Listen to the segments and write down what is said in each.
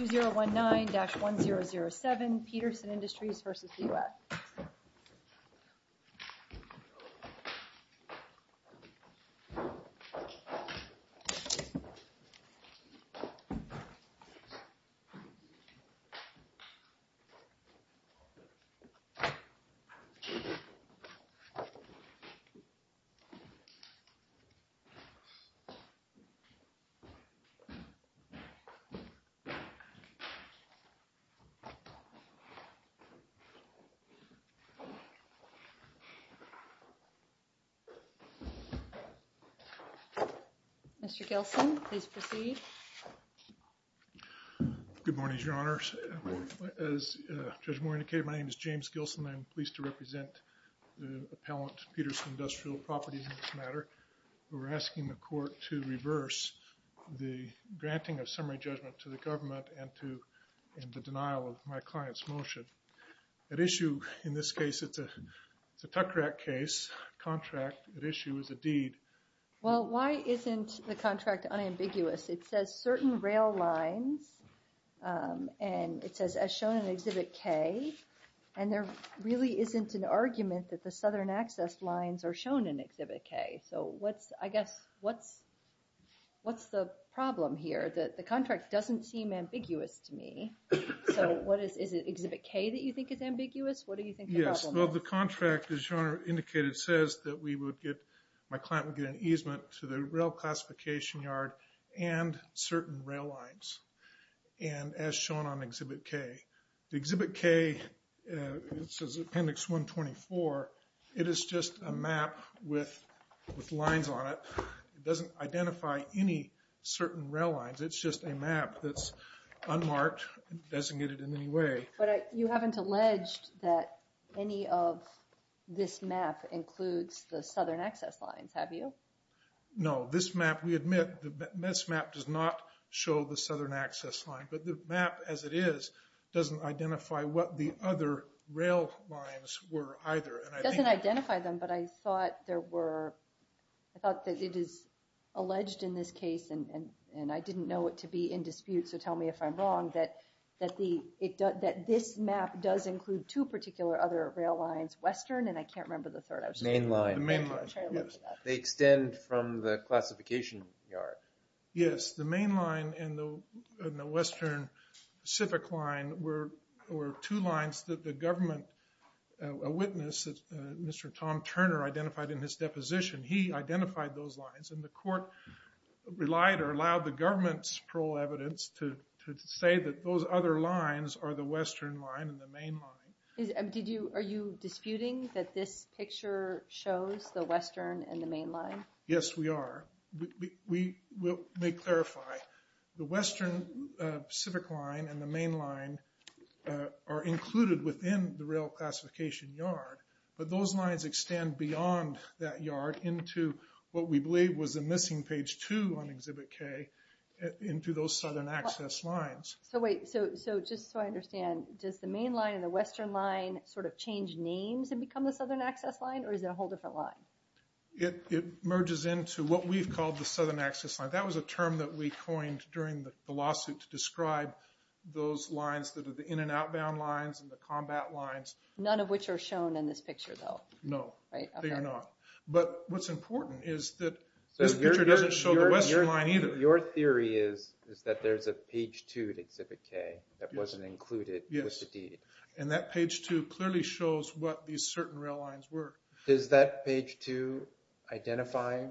2 0 1 9 dash 1 0 0 7 Peterson Industries versus the US. The members all will participate in conclusion break. Speaker 3 Good morning Your Honour, as Judge Moore indicated, my name is James Gilson and I'm pleased to represent the appealant Peterson Industrial Properties in this matter. We are asking the court to reverse the granting of summary judgment to the government and to end the denial of my client's motion. At issue in this case, it's a Tuckrack case, contract at issue is a deed. Judge O'Connor Well, why isn't the contract unambiguous? It says certain rail lines and it says as shown in Exhibit K and there really isn't an argument that the southern access lines are shown in Exhibit K. So what's, I guess, what's the problem here? The contract doesn't seem ambiguous to me. So what is it, is it Exhibit K that you think is ambiguous? What do you think the problem is? Judge O'Connor Yes, well the contract, as Your Honour indicated, says that we would get, my client would get an easement to the rail classification yard and certain rail lines and as shown on Exhibit K. Exhibit K, it says Appendix 124, it is just a map with lines on it, it doesn't identify any certain rail lines, it's just a map that's unmarked, designated in any way. Judge O'Connor But you haven't alleged that any of this map includes the southern access lines, have you? Judge O'Connor No, this map, we admit, this map does not show the southern access line, but the map as it is doesn't identify what the other rail lines were either. And I think... Judge O'Connor It doesn't identify them, but I thought there was a line in this case and I didn't know it to be in dispute, so tell me if I'm wrong, that this map does include two particular other rail lines, western and I can't remember the third. I was trying to look for that. Judge O'Connor The main line, yes. They extend from the classification yard. Judge O'Connor Yes, the main line and the western Pacific line were two lines that the government, a witness, Mr. Tom Turner identified in his relied or allowed the government's parole evidence to say that those other lines are the western line and the main line. Judge O'Connor Are you disputing that this picture shows the western and the main line? Judge O'Connor Yes, we are. We may clarify, the western Pacific line and the main line are included within the rail classification yard, but those lines extend beyond that yard into what we believe was a missing page two on Exhibit K into those southern access lines. Judge O'Connor So wait, so just so I understand, does the main line and the western line sort of change names and become the southern access line or is it a whole different line? Judge O'Connor It merges into what we've called the southern access line. That was a term that we coined during the lawsuit to describe those lines that are the in and outbound lines and the combat lines. Judge O'Connor None of which are shown in this picture though? Judge O'Connor No. They are not. But what's important is that this picture doesn't show the western line either. Judge O'Connor Your theory is that there's a page two at Exhibit K that wasn't included with the deed. Judge O'Connor Yes. And that page two clearly shows what these certain rail lines were. Judge O'Connor Does that page two identify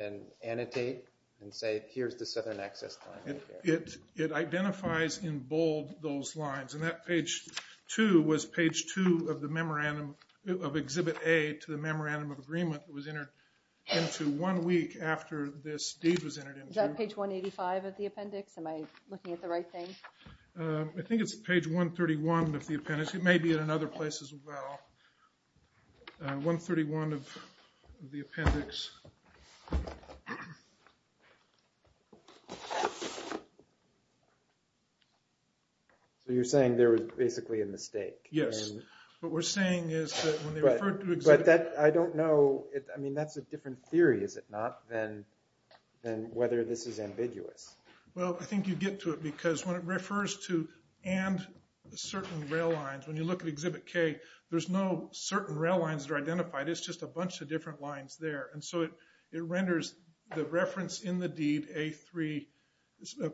and annotate and say here's the southern access line? Judge O'Connor It identifies in bold those lines. And that page two was page two of the memorandum of Exhibit A to the memorandum of agreement that was entered into one week after this deed was entered into. Judge O'Connor Is that page 185 of the appendix? Am I looking at the right thing? Judge O'Connor I think it's page 131 of the appendix. It may be in another place as well. Page 131 of the appendix. Judge O'Connor So you're saying there was basically a mistake? Judge O'Connor Yes. What we're saying is that when they referred to Exhibit K Judge O'Connor But that, I don't know, I mean that's a different theory is it not than whether this is ambiguous? Judge O'Connor Well I think you get to it because when it refers to and certain rail lines, when you look at Exhibit K, there's no certain rail lines that are identified. It's just a bunch of different lines there. And so it renders the reference in the deed A3,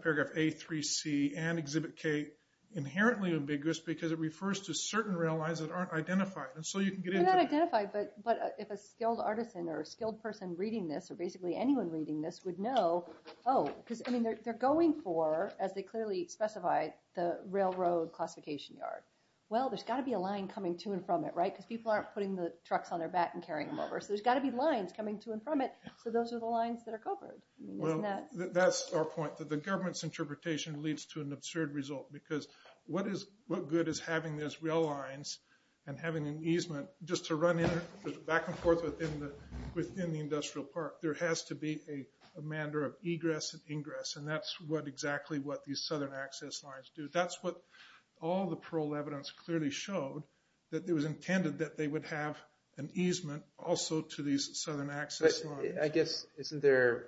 paragraph A3C and Exhibit K inherently ambiguous because it refers to certain rail lines that aren't identified. And so you can get into it. Judge O'Connor They're not identified, but if a skilled artisan or a skilled person reading this or basically anyone reading this would know, oh, because I mean they're going for, as they clearly specified, the railroad classification yard. Well, there's got to be a line coming to and from it, right? Because people aren't putting the trucks on their back and carrying them over. So there's got to be lines coming to and from it. So those are the lines that are covered. Judge O'Connor Well, that's our point that the government's interpretation leads to an absurd result because what good is having those rail lines and having an easement just to run back and forth within the industrial park? There has to be a manner of egress and ingress and that's what exactly what these southern access lines do. That's what all the parole evidence clearly showed, that it was intended that they would have an easement also to these southern access lines. Judge Goldberg I guess, isn't there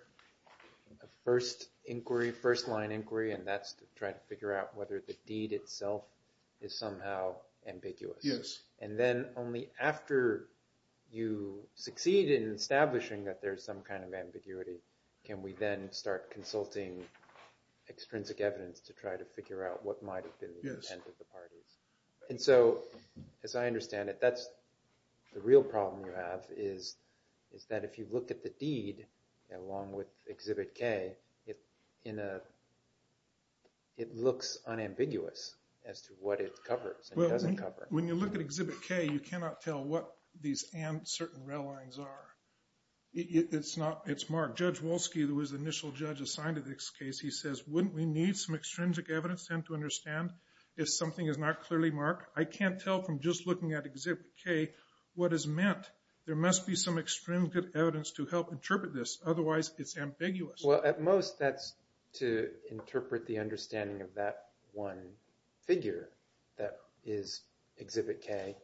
a first inquiry, first line inquiry, and that's to try to figure out whether the deed itself is somehow ambiguous? Judge O'Connor Yes. Judge Goldberg And then only after you succeed in establishing that there's some kind of ambiguity can we then start consulting extrinsic evidence to try to figure out what might have been the intent of the parties. And so, as I understand it, that's the real problem you have is that if you look at the deed along with Exhibit K, it looks unambiguous as to what it covers and doesn't cover. Judge O'Connor When you look at Exhibit K, you cannot tell what these certain rail lines are. It's not. It's Mark. Judge Wolski, who was the initial judge assigned to this case, he says, wouldn't we need some clearly, Mark? I can't tell from just looking at Exhibit K what is meant. There must be some extrinsic evidence to help interpret this. Otherwise, it's ambiguous. Judge Goldberg Well, at most, that's to interpret the understanding of that one figure that is Exhibit K.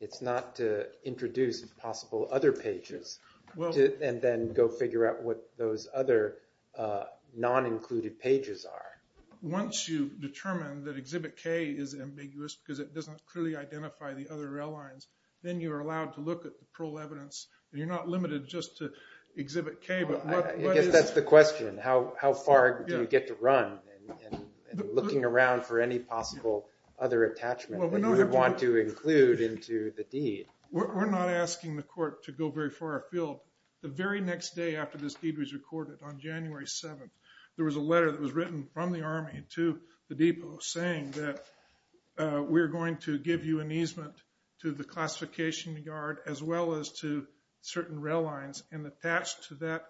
It's not to introduce possible other pages and then go figure out what those other non-included pages are. Once you've determined that Exhibit K is ambiguous because it doesn't clearly identify the other rail lines, then you're allowed to look at the parole evidence and you're not limited just to Exhibit K. But what is... Judge O'Connor I guess that's the question. How far do you get to run in looking around for any possible other attachment that you might want to include into the deed? Judge Goldberg We're not asking the court to go very far afield. The very next day after this deed was recorded, on January 7th, there was a letter that was sent from the Army to the depot saying that we're going to give you an easement to the classification yard as well as to certain rail lines and attached to that...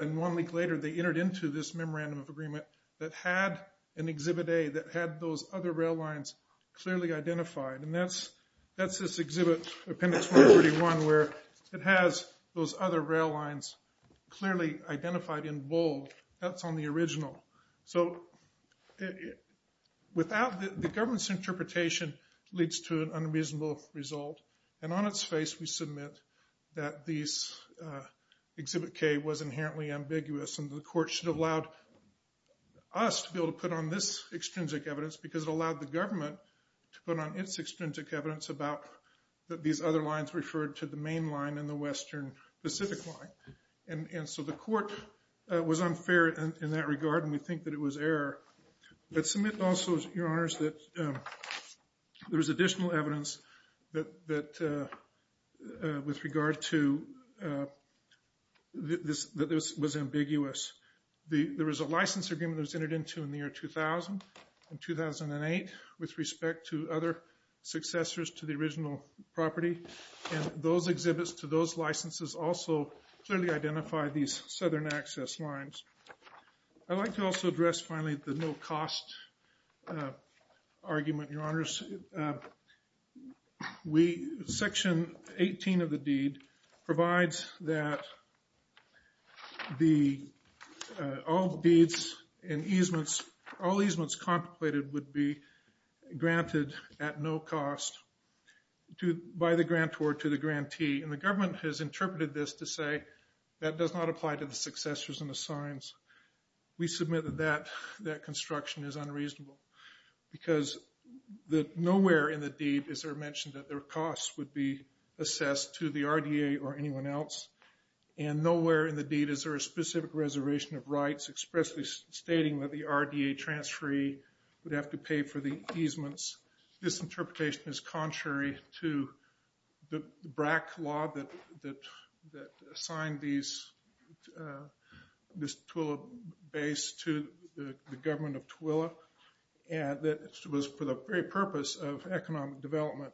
And one week later, they entered into this memorandum of agreement that had an Exhibit A that had those other rail lines clearly identified. And that's this Exhibit Appendix 141 where it has those other rail lines clearly identified in bold. That's on the original. So without... The government's interpretation leads to an unreasonable result. And on its face, we submit that this Exhibit K was inherently ambiguous and the court should have allowed us to be able to put on this extrinsic evidence because it allowed the government to put on its extrinsic evidence about these other lines referred to the main line and the western Pacific line. And so the court was unfair in that regard and we think that it was error. Let's submit also, Your Honors, that there was additional evidence that with regard to that this was ambiguous. There was a license agreement that was entered into in the year 2000 and 2008 with respect to other successors to the original property. And those exhibits to those licenses also clearly identified these southern access lines. I'd like to also address finally the no-cost argument, Your Honors. Section 18 of the deed provides that all deeds and easements, all easements contemplated would be granted at no cost by the grantor to the grantee. And the government has interpreted this to say that does not apply to the successors and the signs. We submit that that construction is unreasonable because nowhere in the deed is there mentioned that their costs would be assessed to the RDA or anyone else. And nowhere in the deed is there a specific reservation of rights expressly stating that the RDA transferee would have to pay for the easements. This interpretation is contrary to the BRAC law that assigned this Tooele base to the government of Tooele and that was for the very purpose of economic development.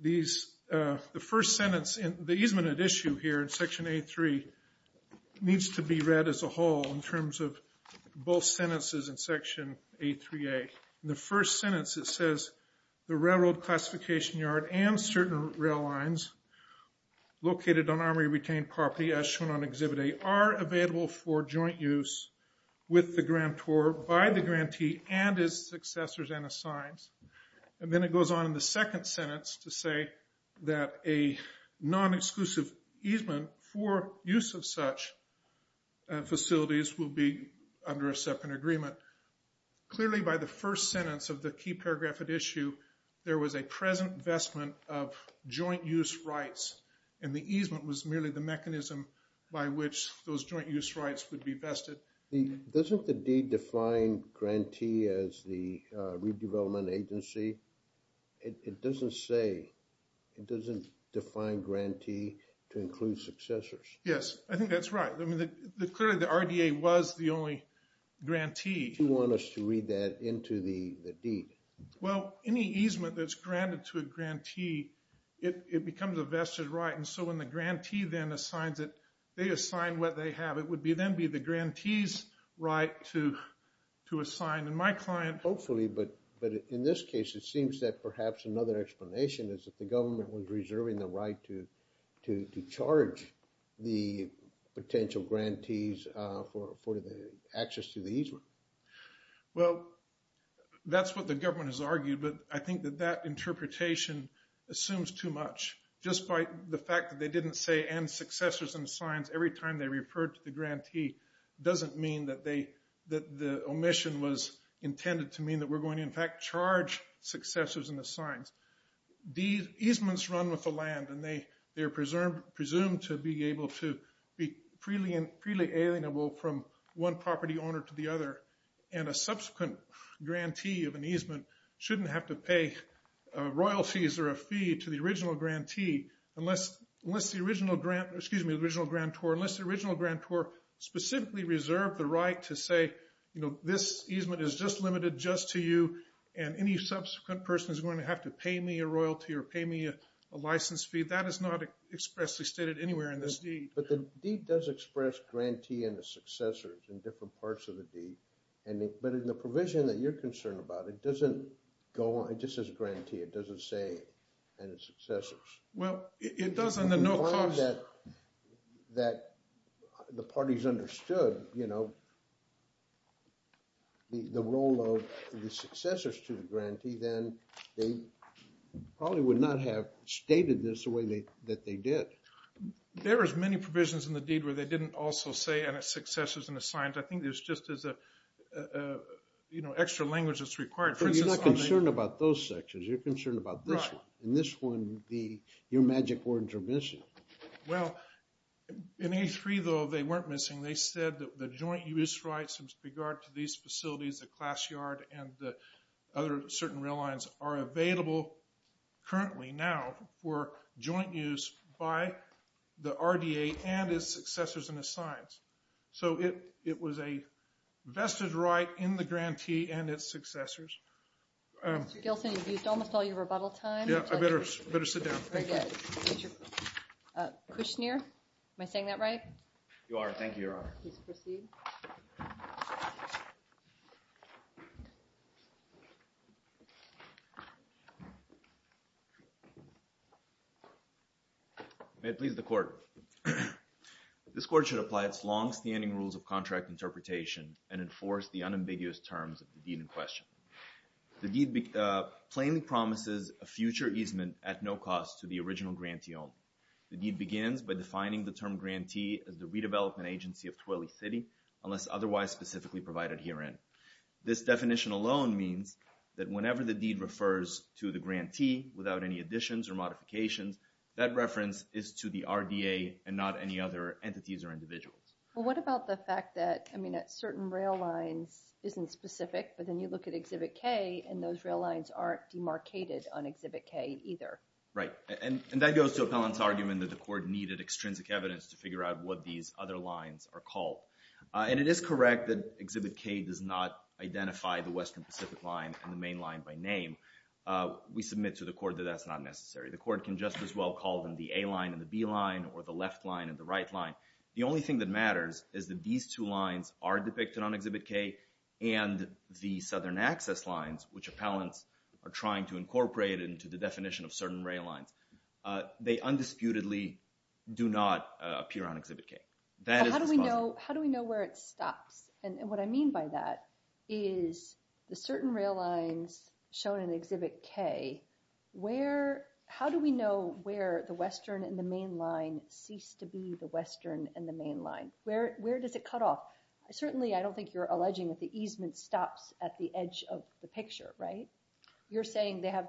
The first sentence in the easement at issue here in section A3 needs to be read as a whole in terms of both sentences in section A3A. The first sentence it says the railroad classification yard and certain rail lines located on armory retained property as shown on exhibit A are available for joint use with the grantor by the grantee and his successors and his signs. And then it goes on in the second sentence to say that a non-exclusive easement for use of such facilities will be under a separate agreement. Clearly by the first sentence of the key paragraph at issue there was a present investment of joint use rights and the easement was merely the mechanism by which those joint use rights would be vested. Doesn't the deed define grantee as the redevelopment agency? It doesn't say, it doesn't define grantee to include successors. Yes, I think that's right. I mean, clearly the RDA was the only grantee. Do you want us to read that into the deed? Well, any easement that's granted to a grantee, it becomes a vested right. And so when the grantee then assigns it, they assign what they have. It would then be the grantee's right to assign. And my client... Hopefully, but in this case it seems that perhaps another explanation is that the government was reserving the right to charge the potential grantees for the access to the easement. Well, that's what the government has argued, but I think that that interpretation assumes too much. Just by the fact that they didn't say and successors and signs every time they referred to the grantee doesn't mean that they... That the omission was intended to mean that we're going to in fact charge successors and the signs. These easements run with the land and they're presumed to be able to be freely alienable from one property owner to the other. And a subsequent grantee of an easement shouldn't have to pay royalties or a fee to the original grantee unless the original grantor specifically reserved the right to say, you know, this easement is just limited just to you. And any subsequent person is going to have to pay me a royalty or pay me a license fee. That is not expressly stated anywhere in this deed. But the deed does express grantee and the successors in different parts of the deed. But in the provision that you're concerned about, it doesn't go on... It just says grantee. It doesn't say any successors. Well, it does in the no cost... that the parties understood, you know, the role of the successors to the grantee, then they probably would not have stated this the way that they did. There is many provisions in the deed where they didn't also say any successors and the signs. I think there's just as a, you know, extra language that's required. So you're not concerned about those sections. You're concerned about this one. In this one, your magic words are missing. Well, in A3, though, they weren't missing. They said that the joint use rights in regard to these facilities, the class yard, and the other certain rail lines are available currently now for joint use by the RDA and its successors and its signs. So it was a vested right in the grantee and its successors. Mr. Gilson, you've used almost all your rebuttal time. Yeah, I better sit down. Kushner, am I saying that right? You are. Thank you, Your Honor. Please proceed. May it please the Court. This Court should apply its longstanding rules of contract interpretation and enforce the unambiguous terms of the deed in question. The deed plainly promises a future easement at no cost to the original grantee only. The deed begins by defining the term grantee as the redevelopment agency of Twillie City unless otherwise specifically provided herein. This definition alone means that whenever the deed refers to the grantee without any additions or modifications, that reference is to the RDA and not any other entities or individuals. Well, what about the fact that, I mean, that certain rail lines isn't specific, but then you look at Exhibit K and those rail lines aren't demarcated on Exhibit K either. Right. And that goes to Appellant's argument that the Court needed extrinsic evidence to figure out what these other lines are called. And it is correct that Exhibit K does not identify the western Pacific line and the main line by name. We submit to the Court that that's not necessary. The Court can just as well call them the A line and the B line or the left line and the right line. The only thing that matters is that these two lines are depicted on Exhibit K and the southern access lines, which Appellants are trying to incorporate into the definition of certain rail lines, they undisputedly do not appear on Exhibit K. How do we know where it stops? And what I mean by that is the certain rail lines shown in Exhibit K, how do we know where the western and the main line cease to be the western and the main line? Where does it cut off? Certainly I don't think you're alleging that the easement stops at the edge of the picture, right? You're saying they have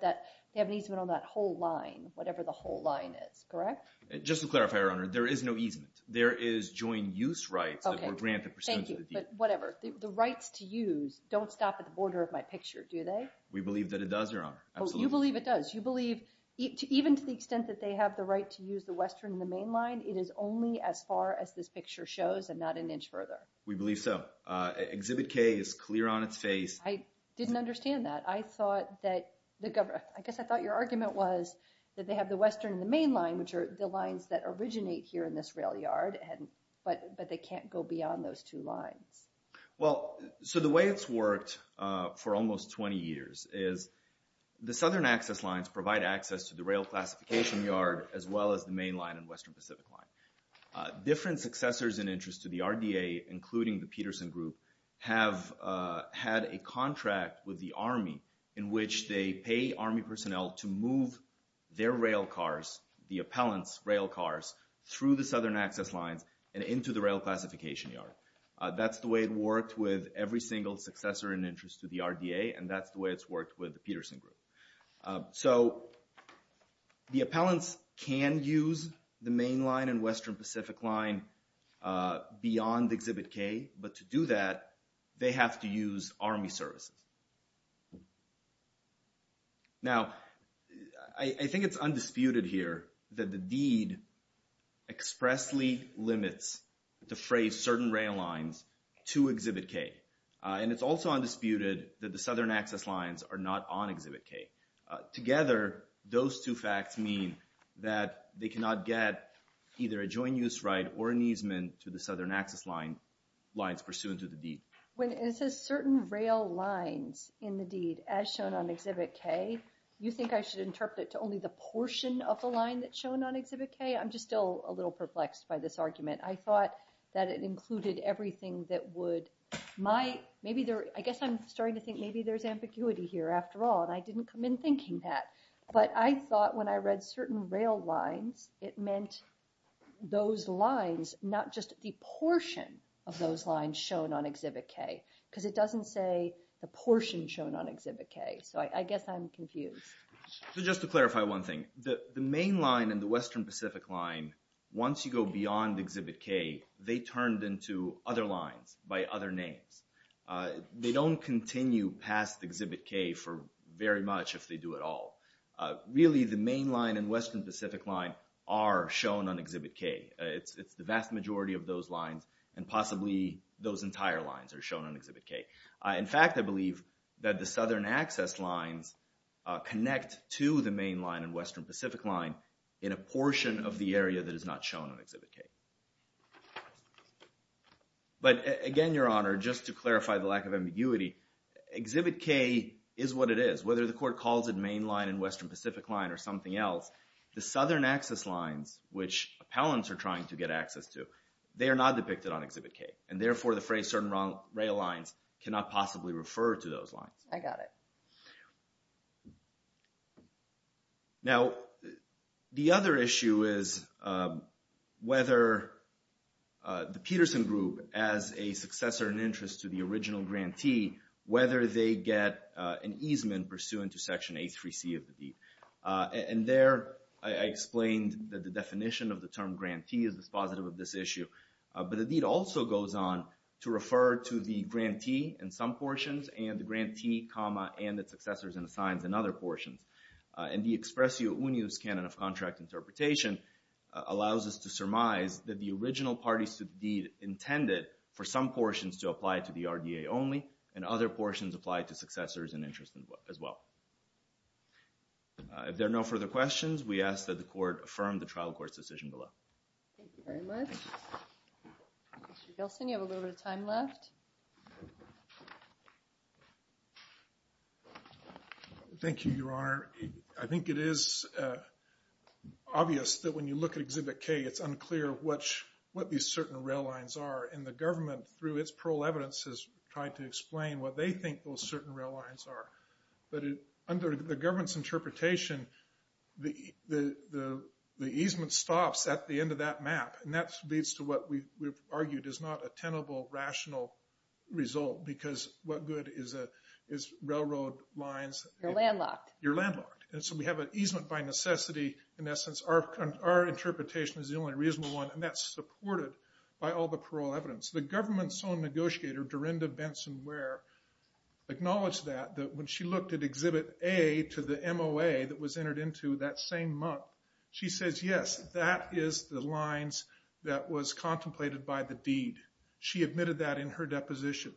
an easement on that whole line, whatever the whole line is, correct? Just to clarify, Your Honor, there is no easement. There is joint use rights that were granted pursuant to the deed. Okay, thank you, but whatever. The rights to use don't stop at the border of my picture, do they? We believe that it does, Your Honor, absolutely. You believe it does. You believe even to the extent that they have the right to use the western and the main line, it is only as far as this picture shows and not an inch further? We believe so. Exhibit K is clear on its face. I didn't understand that. I thought that the government, I guess I thought your argument was that they have the western and the main line, which are the lines that originate here in this rail yard, but they can't go beyond those two lines. Well, so the way it's worked for almost 20 years is the southern access lines provide access to the rail classification yard as well as the main line and western Pacific line. Different successors in interest to the RDA, including the Peterson Group, have had a contract with the Army in which they pay Army personnel to move their rail cars, the appellants' rail cars, through the southern access lines and into the rail classification yard. That's the way it worked with every single successor in interest to the RDA, and that's the way it's worked with the Peterson Group. So the appellants can use the main line and western Pacific line beyond Exhibit K, but to do that they have to use Army services. Now, I think it's undisputed here that the deed expressly limits the phrase certain rail lines to Exhibit K, and it's also undisputed that the southern access lines are not on Exhibit K. Together, those two facts mean that they cannot get either a joint use right or an easement to the southern access lines pursuant to the deed. When it says certain rail lines in the deed as shown on Exhibit K, you think I should interpret it to only the portion of the line that's shown on Exhibit K? I'm just still a little perplexed by this argument. I thought that it included everything that would— I guess I'm starting to think maybe there's ambiguity here after all, and I didn't come in thinking that. But I thought when I read certain rail lines, it meant those lines, not just the portion of those lines shown on Exhibit K, because it doesn't say the portion shown on Exhibit K. So I guess I'm confused. So just to clarify one thing, the main line and the western Pacific line, once you go beyond Exhibit K, they turned into other lines by other names. They don't continue past Exhibit K very much if they do at all. Really, the main line and western Pacific line are shown on Exhibit K. It's the vast majority of those lines, and possibly those entire lines are shown on Exhibit K. In fact, I believe that the southern access lines connect to the main line and western Pacific line in a portion of the area that is not shown on Exhibit K. But again, Your Honor, just to clarify the lack of ambiguity, Exhibit K is what it is. Whether the court calls it main line and western Pacific line or something else, the southern access lines, which appellants are trying to get access to, they are not depicted on Exhibit K. And therefore, the phrase certain rail lines cannot possibly refer to those lines. I got it. Now, the other issue is whether the Peterson Group, as a successor in interest to the original grantee, whether they get an easement pursuant to Section A3C of the deed. And there I explained that the definition of the term grantee is dispositive of this issue. But the deed also goes on to refer to the grantee in some portions and the grantee, and its successors and assigns in other portions. And the expressio unius canon of contract interpretation allows us to surmise that the original parties to the deed intended for some portions to apply to the RDA only and other portions apply to successors in interest as well. If there are no further questions, we ask that the court affirm the trial court's decision below. Thank you very much. Mr. Gilson, you have a little bit of time left. Thank you, Your Honor. I think it is obvious that when you look at Exhibit K, it's unclear what these certain rail lines are. And the government, through its parole evidence, has tried to explain what they think those certain rail lines are. But under the government's interpretation, the easement stops at the end of that map. And that leads to what we've argued is not a tenable, rational result because what good is railroad lines... You're landlocked. You're landlocked. And so we have an easement by necessity. In essence, our interpretation is the only reasonable one, and that's supported by all the parole evidence. The government's own negotiator, Dorinda Benson Ware, acknowledged that when she looked at Exhibit A to the MOA that was entered into that same month, she says, yes, that is the lines that was contemplated by the deed. She admitted that in her deposition.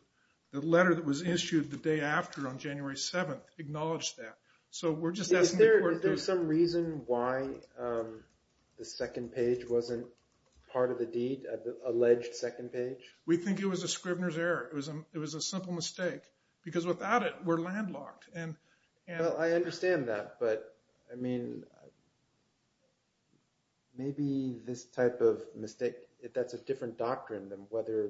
The letter that was issued the day after, on January 7th, acknowledged that. So we're just asking the court to... Is there some reason why the second page wasn't part of the deed, the alleged second page? We think it was a Scribner's error. It was a simple mistake because without it, we're landlocked. Well, I understand that, but, I mean, maybe this type of mistake, that's a different doctrine than whether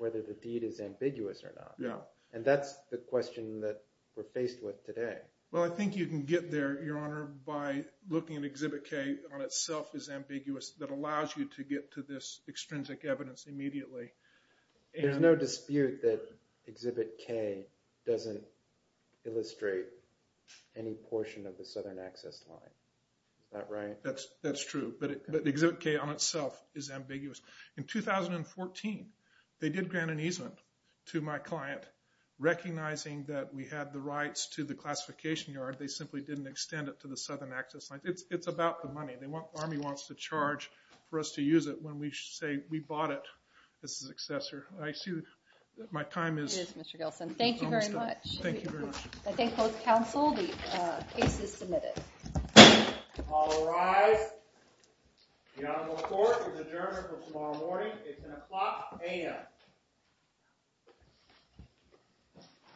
the deed is ambiguous or not. And that's the question that we're faced with today. Well, I think you can get there, Your Honor, by looking at Exhibit K on itself as ambiguous, that allows you to get to this extrinsic evidence immediately. There's no dispute that Exhibit K doesn't illustrate any portion of the Southern Access Line. Is that right? That's true. But Exhibit K on itself is ambiguous. In 2014, they did grant an easement to my client, recognizing that we had the rights to the classification yard. They simply didn't extend it to the Southern Access Line. It's about the money. The Army wants to charge for us to use it when we say we bought it as a successor. I assume my time is almost up. It is, Mr. Gilson. Thank you very much. Thank you very much. I thank both counsel. The case is submitted. All rise. The Honorable Court is adjourned until tomorrow morning. It's an o'clock a.m.